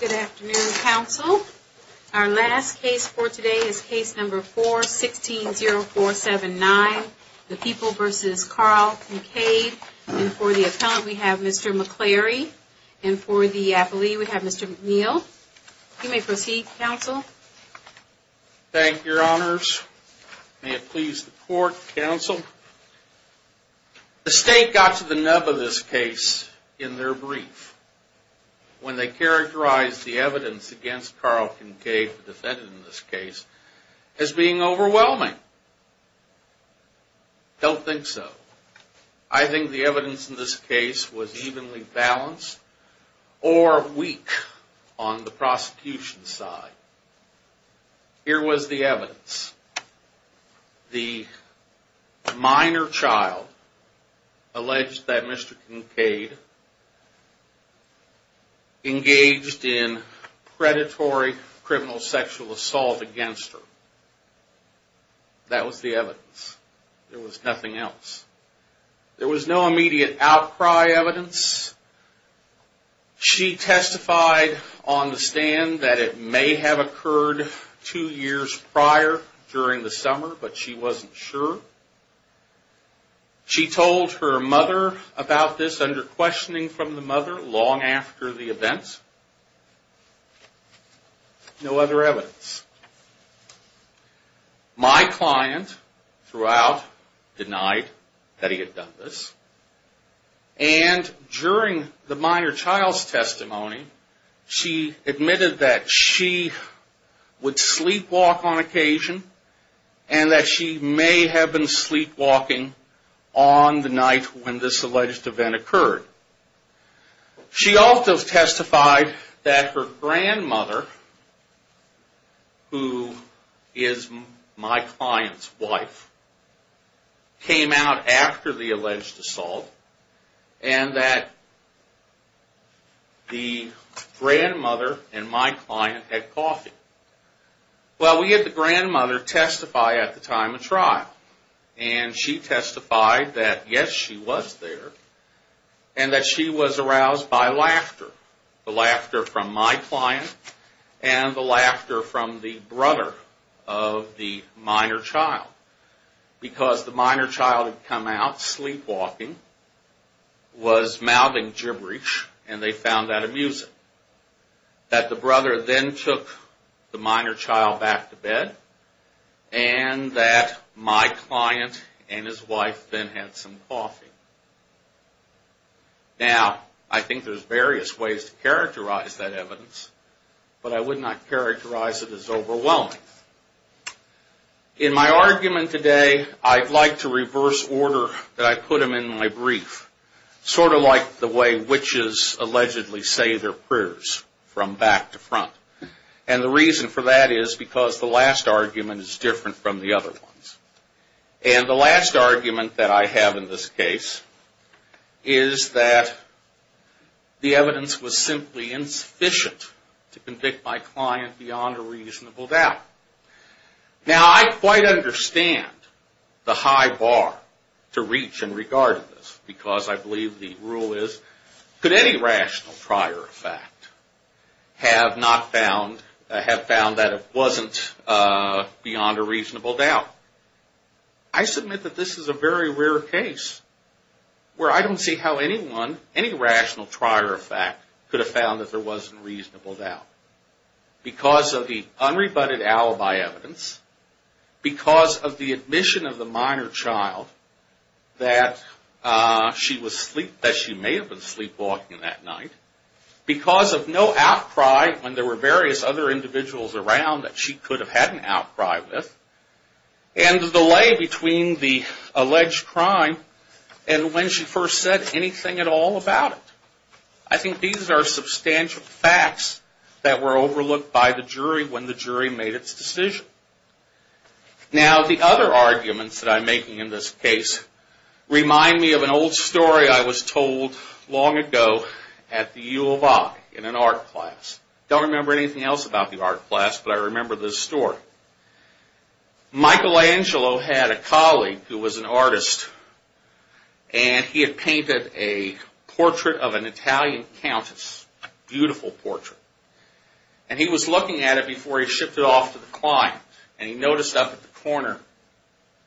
Good afternoon, counsel. Our last case for today is case number 4-16-0479, the People v. Carl Kinkade. And for the appellant we have Mr. McCleary, and for the appellee we have Mr. McNeil. You may proceed, counsel. Thank you, your honors. May it please the court, counsel. The state got to the nub of this case in their brief when they characterized the evidence against Carl Kinkade, the defendant in this case, as being overwhelming. I don't think so. I think the evidence in this case was evenly balanced or weak on the prosecution side. Here was the evidence. The minor child alleged that Mr. Kinkade engaged in predatory criminal sexual assault against her. That was the evidence. There was nothing else. There was no immediate outcry evidence. She testified on the stand that it may have occurred two years prior during the summer, but she wasn't sure. She told her mother about this under questioning from the mother long after the event. No other evidence. My client, throughout, denied that he had done this. And during the minor child's testimony, she admitted that she would sleepwalk on occasion and that she may have been sleepwalking on the night when this alleged event occurred. She also testified that her grandmother, who is my client's wife, came out after the alleged assault and that the grandmother and my client had coffee. Well, we had the grandmother testify at the time of trial. And she testified that, yes, she was there, and that she was aroused by laughter. The laughter from my client and the laughter from the brother of the minor child. Because the minor child had come out sleepwalking, was mouthing gibberish, and they found that amusing. That the brother then took the minor child back to bed, and that my client and his wife then had some coffee. Now, I think there's various ways to characterize that evidence, but I would not characterize it as overwhelming. In my argument today, I'd like to reverse order that I put them in my brief. Sort of like the way witches allegedly say their prayers from back to front. And the reason for that is because the last argument is different from the other ones. And the last argument that I have in this case is that the evidence was simply insufficient to convict my client beyond a reasonable doubt. Now, I quite understand the high bar to reach in regard to this. Because I believe the rule is, could any rational trier of fact have found that it wasn't beyond a reasonable doubt? I submit that this is a very rare case where I don't see how anyone, any rational trier of fact, could have found that there wasn't a reasonable doubt. Because of the unrebutted alibi evidence, because of the admission of the minor child that she may have been sleepwalking that night, because of no outcry when there were various other individuals around that she could have had an outcry with, and the delay between the alleged crime and when she first said anything at all about it. I think these are substantial facts that were overlooked by the jury when the jury made its decision. Now, the other arguments that I'm making in this case remind me of an old story I was told long ago at the U of I in an art class. I don't remember anything else about the art class, but I remember this story. Michelangelo had a colleague who was an artist, and he had painted a portrait of an Italian countess, a beautiful portrait. And he was looking at it before he shipped it off to the client, and he noticed up at the corner,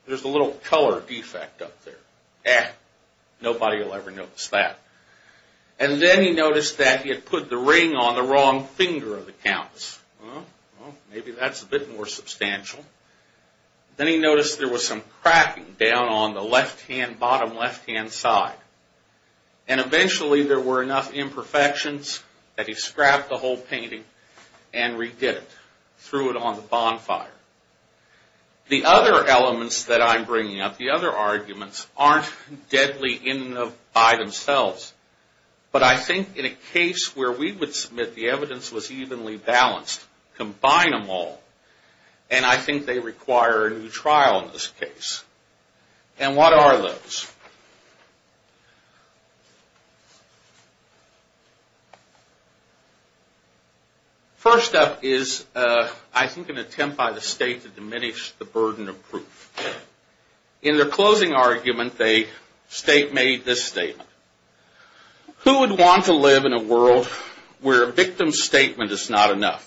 there's a little color defect up there. Eh, nobody will ever notice that. And then he noticed that he had put the ring on the wrong finger of the countess. Well, maybe that's a bit more substantial. Then he noticed there was some cracking down on the left-hand, bottom left-hand side. And eventually there were enough imperfections that he scrapped the whole painting and redid it, threw it on the bonfire. The other elements that I'm bringing up, the other arguments, aren't deadly in and of by themselves. But I think in a case where we would submit the evidence was evenly balanced, combine them all, and I think they require a new trial in this case. And what are those? First up is, I think, an attempt by the state to diminish the burden of proof. In their closing argument, the state made this statement. Who would want to live in a world where a victim's statement is not enough?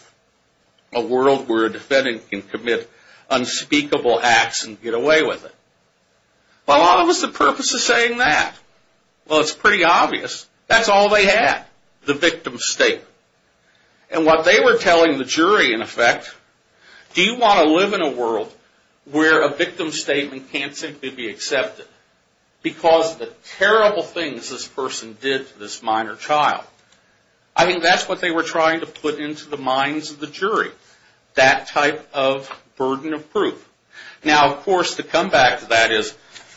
A world where a defendant can commit unspeakable acts and get away with it? Well, what was the purpose of saying that? Well, it's pretty obvious. That's all they had, the victim's statement. And what they were telling the jury, in effect, do you want to live in a world where a victim's statement can't simply be accepted? Because of the terrible things this person did to this minor child. I think that's what they were trying to put into the minds of the jury, that type of burden of proof. Now, of course, to come back to that is,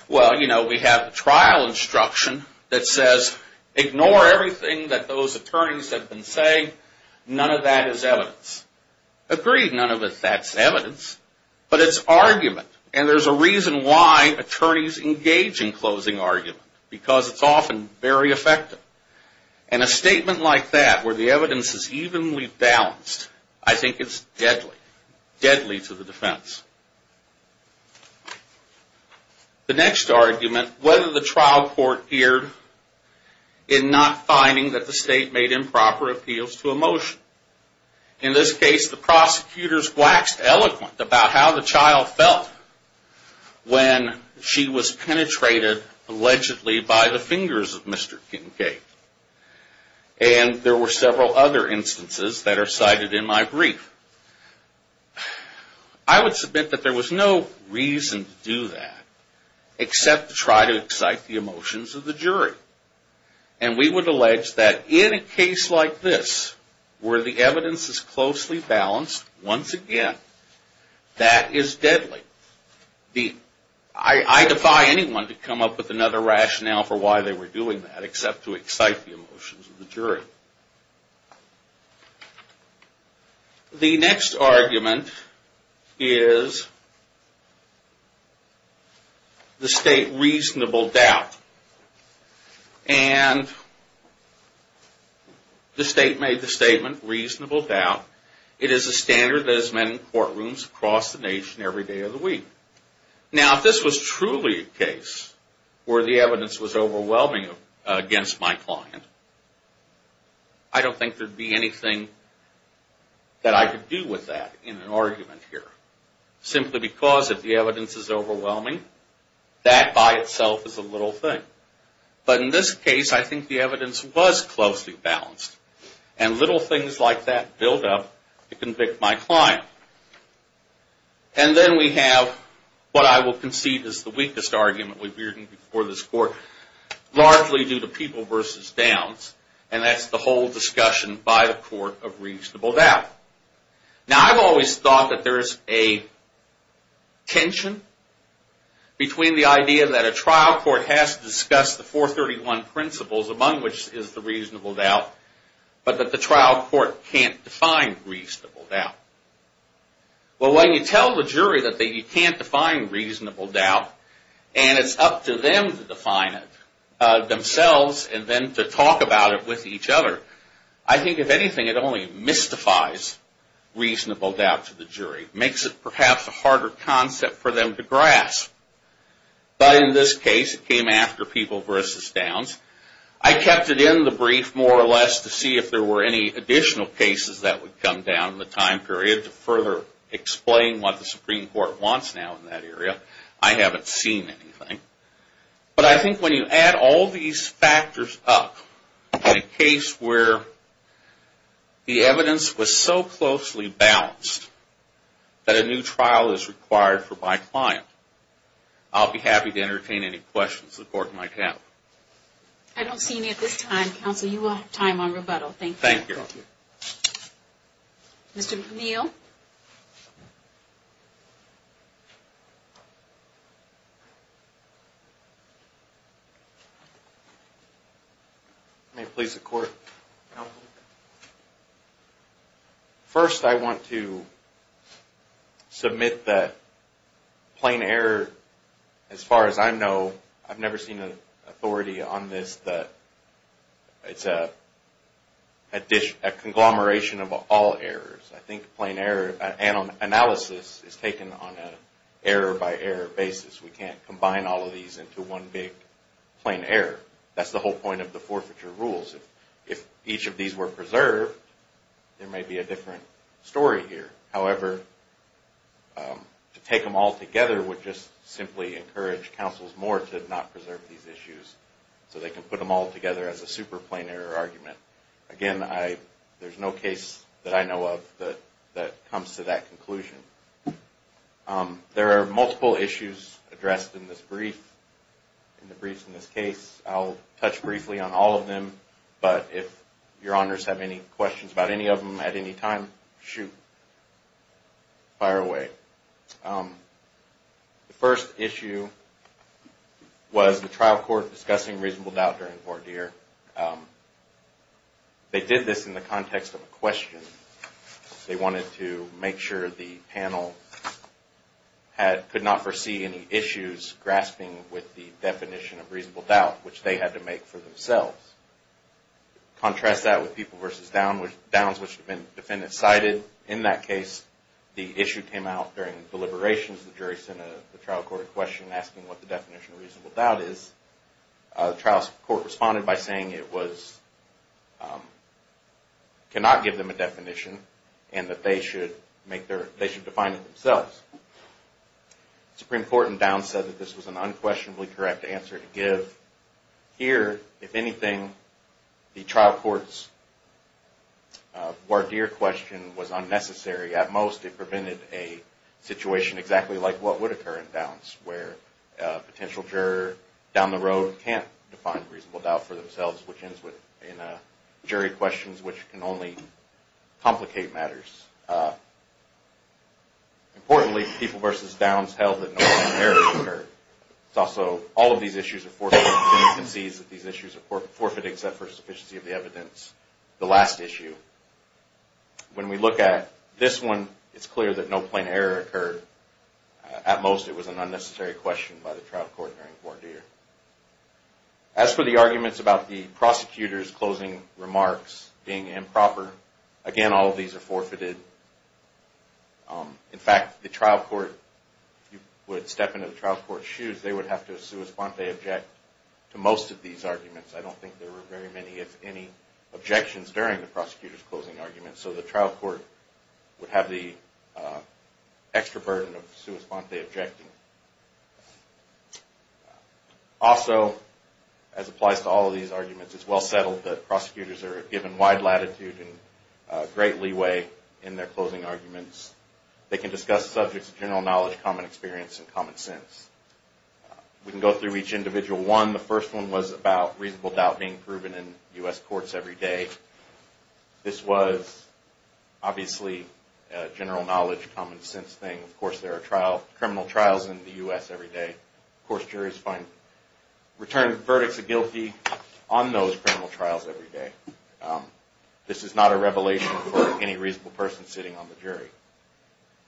well, you know, we have a trial instruction that says, ignore everything that those attorneys have been saying. None of that is evidence. Agreed, none of that's evidence. But it's argument. And there's a reason why attorneys engage in closing argument. Because it's often very effective. And a statement like that, where the evidence is evenly balanced, I think it's deadly. Deadly to the defense. The next argument, whether the trial court erred in not finding that the state made improper appeals to a motion. In this case, the prosecutors waxed eloquent about how the child felt when she was penetrated, allegedly, by the fingers of Mr. Kincaid. And there were several other instances that are cited in my brief. I would submit that there was no reason to do that, except to try to excite the emotions of the jury. And we would allege that in a case like this, where the evidence is closely balanced, once again, that is deadly. I defy anyone to come up with another rationale for why they were doing that, except to excite the emotions of the jury. The next argument is the state reasonable doubt. And the state made the statement, reasonable doubt. It is a standard that is met in courtrooms across the nation every day of the week. Now, if this was truly a case where the evidence was overwhelming against my client, I don't think there would be anything that I could do with that in an argument here. Simply because if the evidence is overwhelming, that by itself is a little thing. But in this case, I think the evidence was closely balanced. And little things like that build up to convict my client. And then we have what I will concede is the weakest argument we've heard in this court. Largely due to people versus downs. And that's the whole discussion by the court of reasonable doubt. Now, I've always thought that there's a tension between the idea that a trial court has to discuss the 431 principles, among which is the reasonable doubt, but that the trial court can't define reasonable doubt. Well, when you tell the jury that you can't define reasonable doubt, and it's up to them to define it themselves and then to talk about it with each other, I think if anything, it only mystifies reasonable doubt to the jury. Makes it perhaps a harder concept for them to grasp. But in this case, it came after people versus downs. I kept it in the brief more or less to see if there were any additional cases that would come down in the time period to further explain what the Supreme Court wants now in that area. I haven't seen anything. But I think when you add all these factors up in a case where the evidence was so closely balanced that a new trial is required for my client, I'll be happy to entertain any questions the court might have. I don't see any at this time. Counsel, you will have time on rebuttal. Thank you. Thank you. Mr. McNeil? First, I want to submit that plain error, as far as I know, I've never seen an authority on this, that it's a conglomeration of all errors. I think plain error analysis is taken on an error-by-error basis. That's the whole point of the forfeiture rules. If each of these were preserved, there may be a different story here. However, to take them all together would just simply encourage counsels more to not preserve these issues so they can put them all together as a super plain error argument. Again, there's no case that I know of that comes to that conclusion. There are multiple issues addressed in this brief, in the briefs in this case. I'll touch briefly on all of them. But if your honors have any questions about any of them at any time, shoot, fire away. The first issue was the trial court discussing reasonable doubt during voir dire. They did this in the context of a question. They wanted to make sure the panel could not foresee any issues grasping with the definition of reasonable doubt, which they had to make for themselves. Contrast that with people versus downs, which the defendant cited. In that case, the issue came out during deliberations. The jury sent a trial court a question asking what the definition of reasonable doubt is. The trial court responded by saying it cannot give them a definition and that they should define it themselves. The Supreme Court in downs said that this was an unquestionably correct answer to give. Here, if anything, the trial court's voir dire question was unnecessary. At most, it prevented a situation exactly like what would occur in downs, where a potential juror down the road can't define reasonable doubt for themselves, which ends with jury questions which can only complicate matters. Importantly, people versus downs held that no plain error occurred. It's also all of these issues are forfeited. The defendant sees that these issues are forfeited except for sufficiency of the evidence. The last issue. When we look at this one, it's clear that no plain error occurred. At most, it was an unnecessary question by the trial court during voir dire. As for the arguments about the prosecutor's closing remarks being improper, again, all of these are forfeited. In fact, the trial court, if you would step into the trial court's shoes, they would have to sua sponte object to most of these arguments. I don't think there were very many, if any, objections during the prosecutor's closing argument. So the trial court would have the extra burden of sua sponte objecting. Also, as applies to all of these arguments, it's well settled that prosecutors are given wide latitude and great leeway in their closing arguments. They can discuss subjects of general knowledge, common experience, and common sense. We can go through each individual one. The first one was about reasonable doubt being proven in U.S. courts every day. This was obviously a general knowledge, common sense thing. Of course, there are criminal trials in the U.S. every day. Of course, juries find return verdicts of guilty on those criminal trials every day. This is not a revelation for any reasonable person sitting on the jury.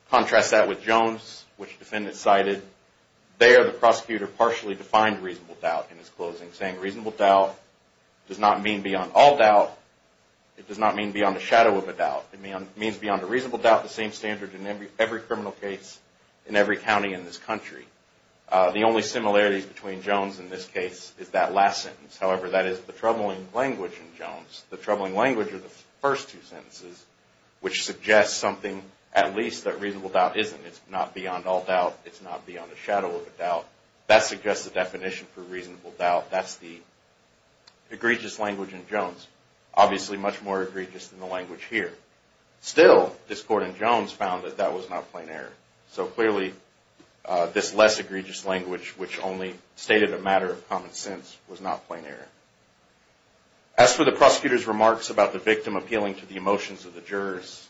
Contrast that with Jones, which defendants cited. There, the prosecutor partially defined reasonable doubt in his closing, saying reasonable doubt does not mean beyond all doubt. It does not mean beyond the shadow of a doubt. It means beyond a reasonable doubt, the same standard in every criminal case in every county in this country. The only similarities between Jones and this case is that last sentence. However, that is the troubling language in Jones. The troubling language are the first two sentences, which suggest something, at least, that reasonable doubt isn't. It's not beyond the shadow of a doubt. That suggests the definition for reasonable doubt. That's the egregious language in Jones. Obviously, much more egregious than the language here. Still, this court in Jones found that that was not plain error. So clearly, this less egregious language, which only stated a matter of common sense, was not plain error. As for the prosecutor's remarks about the victim appealing to the emotions of the jurors,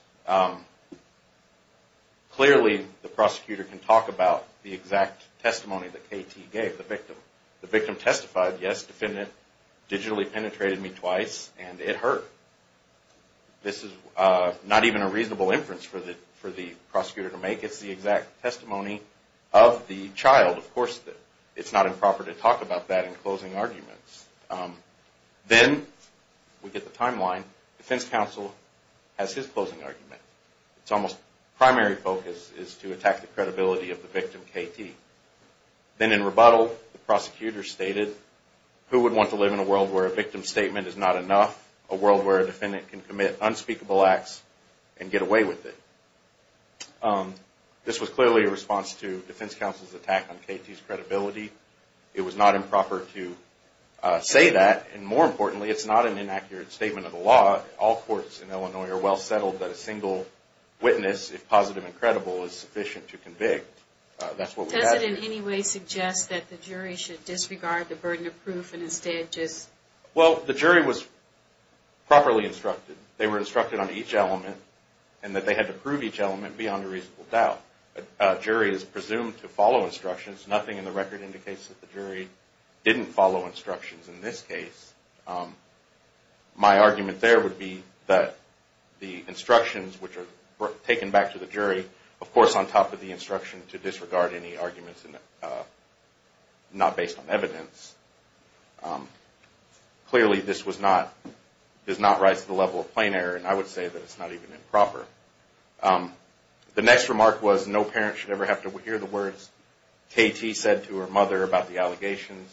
clearly, the prosecutor can talk about the exact testimony that KT gave the victim. The victim testified, yes, defendant digitally penetrated me twice and it hurt. This is not even a reasonable inference for the prosecutor to make. It's the exact testimony of the child. Of course, it's not improper to talk about that in closing arguments. Then, we get the timeline. Defense counsel has his closing argument. It's almost primary focus is to attack the credibility of the victim, KT. Then, in rebuttal, the prosecutor stated, who would want to live in a world where a victim's statement is not enough, a world where a defendant can commit unspeakable acts and get away with it? This was clearly a response to defense counsel's attack on KT's credibility. It was not improper to say that, and more importantly, it's not an inaccurate statement of the law. All courts in Illinois are well settled that a single witness, if positive and credible, is sufficient to convict. Does it in any way suggest that the jury should disregard the burden of proof and instead just... Well, the jury was properly instructed. They were instructed on each element, and that they had to prove each element beyond a reasonable doubt. A jury is presumed to follow instructions. Nothing in the record indicates that the jury didn't follow instructions in this case. My argument there would be that the instructions, which are taken back to the jury, of course, on top of the instruction to disregard any arguments not based on evidence. Clearly, this does not rise to the level of plain error, and I would say that it's not even improper. The next remark was, no parent should ever have to hear the words KT said to her mother about the allegations.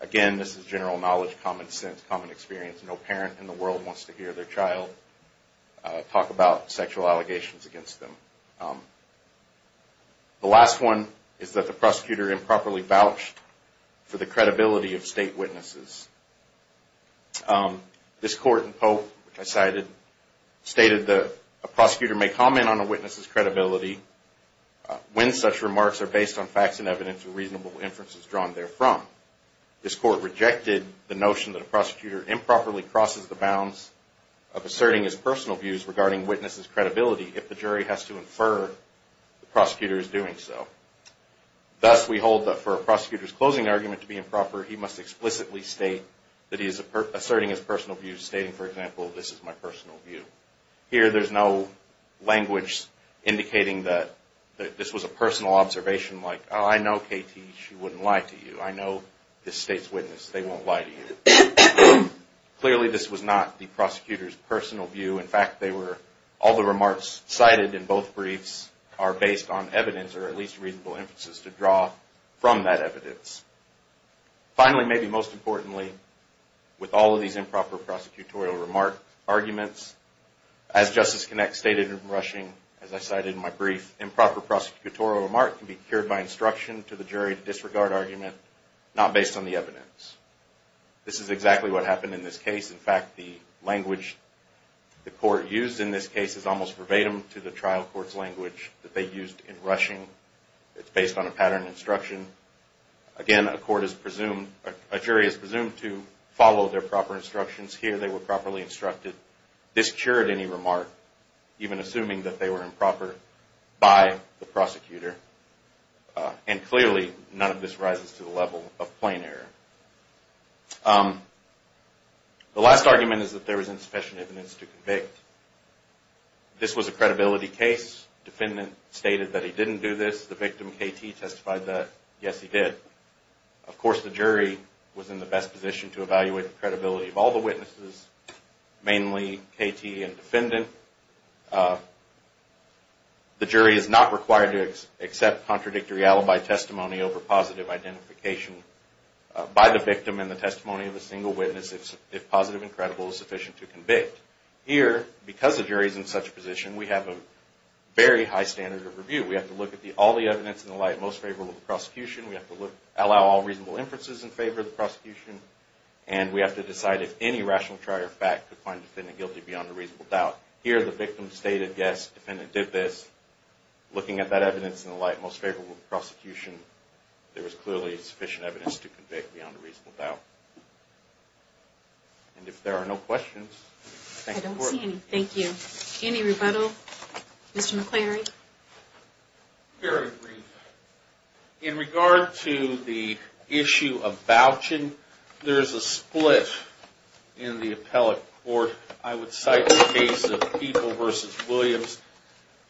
Again, this is general knowledge, common sense, common experience. No parent in the world wants to hear their child talk about sexual allegations against them. The last one is that the prosecutor improperly vouched for the credibility of state witnesses. This court in Pope, which I cited, stated that a prosecutor may comment on a witness's credibility when such remarks are based on facts and evidence with reasonable inferences drawn therefrom. This court rejected the notion that a prosecutor improperly crosses the bounds of asserting his personal views regarding witnesses' credibility if the jury has to infer the prosecutor is doing so. Thus, we hold that for a prosecutor's closing argument to be improper, he must explicitly state that he is asserting his personal views, stating, for example, this is my personal view. Here, there's no language indicating that this was a personal observation, like, oh, I know KT, she wouldn't lie to you. I know this state's witness. They won't lie to you. Clearly, this was not the prosecutor's personal view. In fact, all the remarks cited in both briefs are based on evidence or at least reasonable inferences to draw from that evidence. Finally, maybe most importantly, with all of these improper prosecutorial remark arguments, as Justice Kinect stated in rushing, as I cited in my brief, improper prosecutorial remark can be cured by instruction to the jury of disregard argument, not based on the evidence. This is exactly what happened in this case. In fact, the language the court used in this case is almost verbatim to the trial court's language that they used in rushing. It's based on a pattern of instruction. Again, a jury is presumed to follow their proper instructions. Here, they were properly instructed. This cured any remark, even assuming that they were improper by the prosecutor. Clearly, none of this rises to the level of plain error. The last argument is that there was insufficient evidence to convict. This was a credibility case. Defendant stated that he didn't do this. The victim, KT, testified that, yes, he did. Of course, the jury was in the best position to evaluate the credibility of all the witnesses, mainly KT and defendant. The jury is not required to accept contradictory alibi testimony over positive identification by the victim in the testimony of a single witness if positive and credible is sufficient to convict. Here, because the jury is in such a position, we have a very high standard of review. We have to look at all the evidence in the light most favorable to the prosecution. We have to allow all reasonable inferences in favor of the prosecution. And we have to decide if any rational trial fact could find defendant guilty beyond a reasonable doubt. Here, the victim stated, yes, defendant did this. Looking at that evidence in the light most favorable to the prosecution, there was clearly sufficient evidence to convict beyond a reasonable doubt. And if there are no questions, thank you. I don't see any. Thank you. Any rebuttal, Mr. McClary? Very brief. In regard to the issue of vouching, there is a split in the appellate court. I would cite the case of People v. Williams,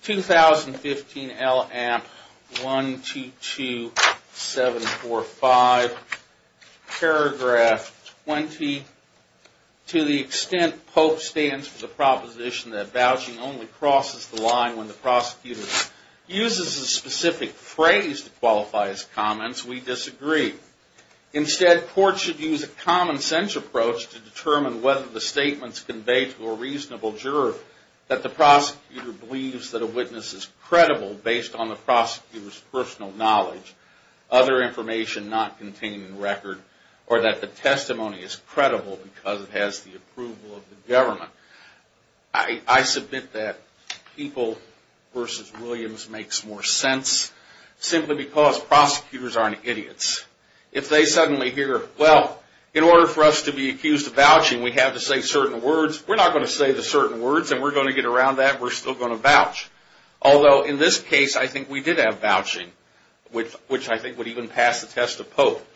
2015 L.A.M. 122745, paragraph 20. To the extent Pope stands for the proposition that vouching only crosses the line when the prosecutor uses a specific phrase to qualify as comments, we disagree. Instead, courts should use a common sense approach to determine whether the statements conveyed to a reasonable juror that the prosecutor believes that a witness is credible based on the prosecutor's personal knowledge, other information not contained in record, or that the testimony is credible because it has the approval of the government. I submit that People v. Williams makes more sense simply because prosecutors aren't idiots. If they suddenly hear, well, in order for us to be accused of vouching, we have to say certain words. We're not going to say the certain words, and we're going to get around that. We're still going to vouch. Although, in this case, I think we did have vouching, which I think would even pass the test of Pope.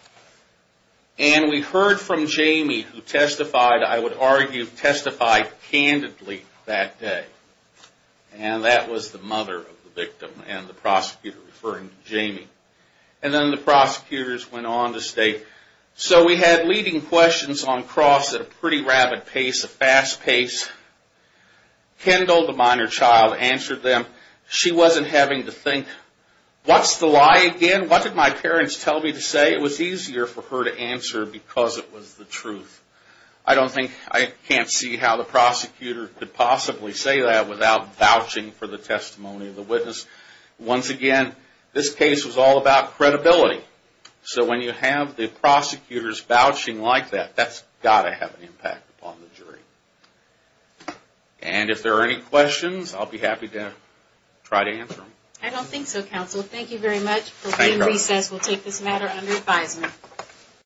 And we heard from Jamie, who testified, I would argue, testified candidly that day. And that was the mother of the victim, and the prosecutor referring to Jamie. And then the prosecutors went on to state, so we had leading questions on cross at a pretty rapid pace, a fast pace. Kendall, the minor child, answered them. She wasn't having to think, what's the lie again? What did my parents tell me to say? It was easier for her to answer because it was the truth. I don't think, I can't see how the prosecutor could possibly say that without vouching for the testimony of the witness. Once again, this case was all about credibility. So when you have the prosecutors vouching like that, that's got to have an impact upon the jury. And if there are any questions, I'll be happy to try to answer them. I don't think so, counsel. Thank you very much. We'll take this matter under advisement.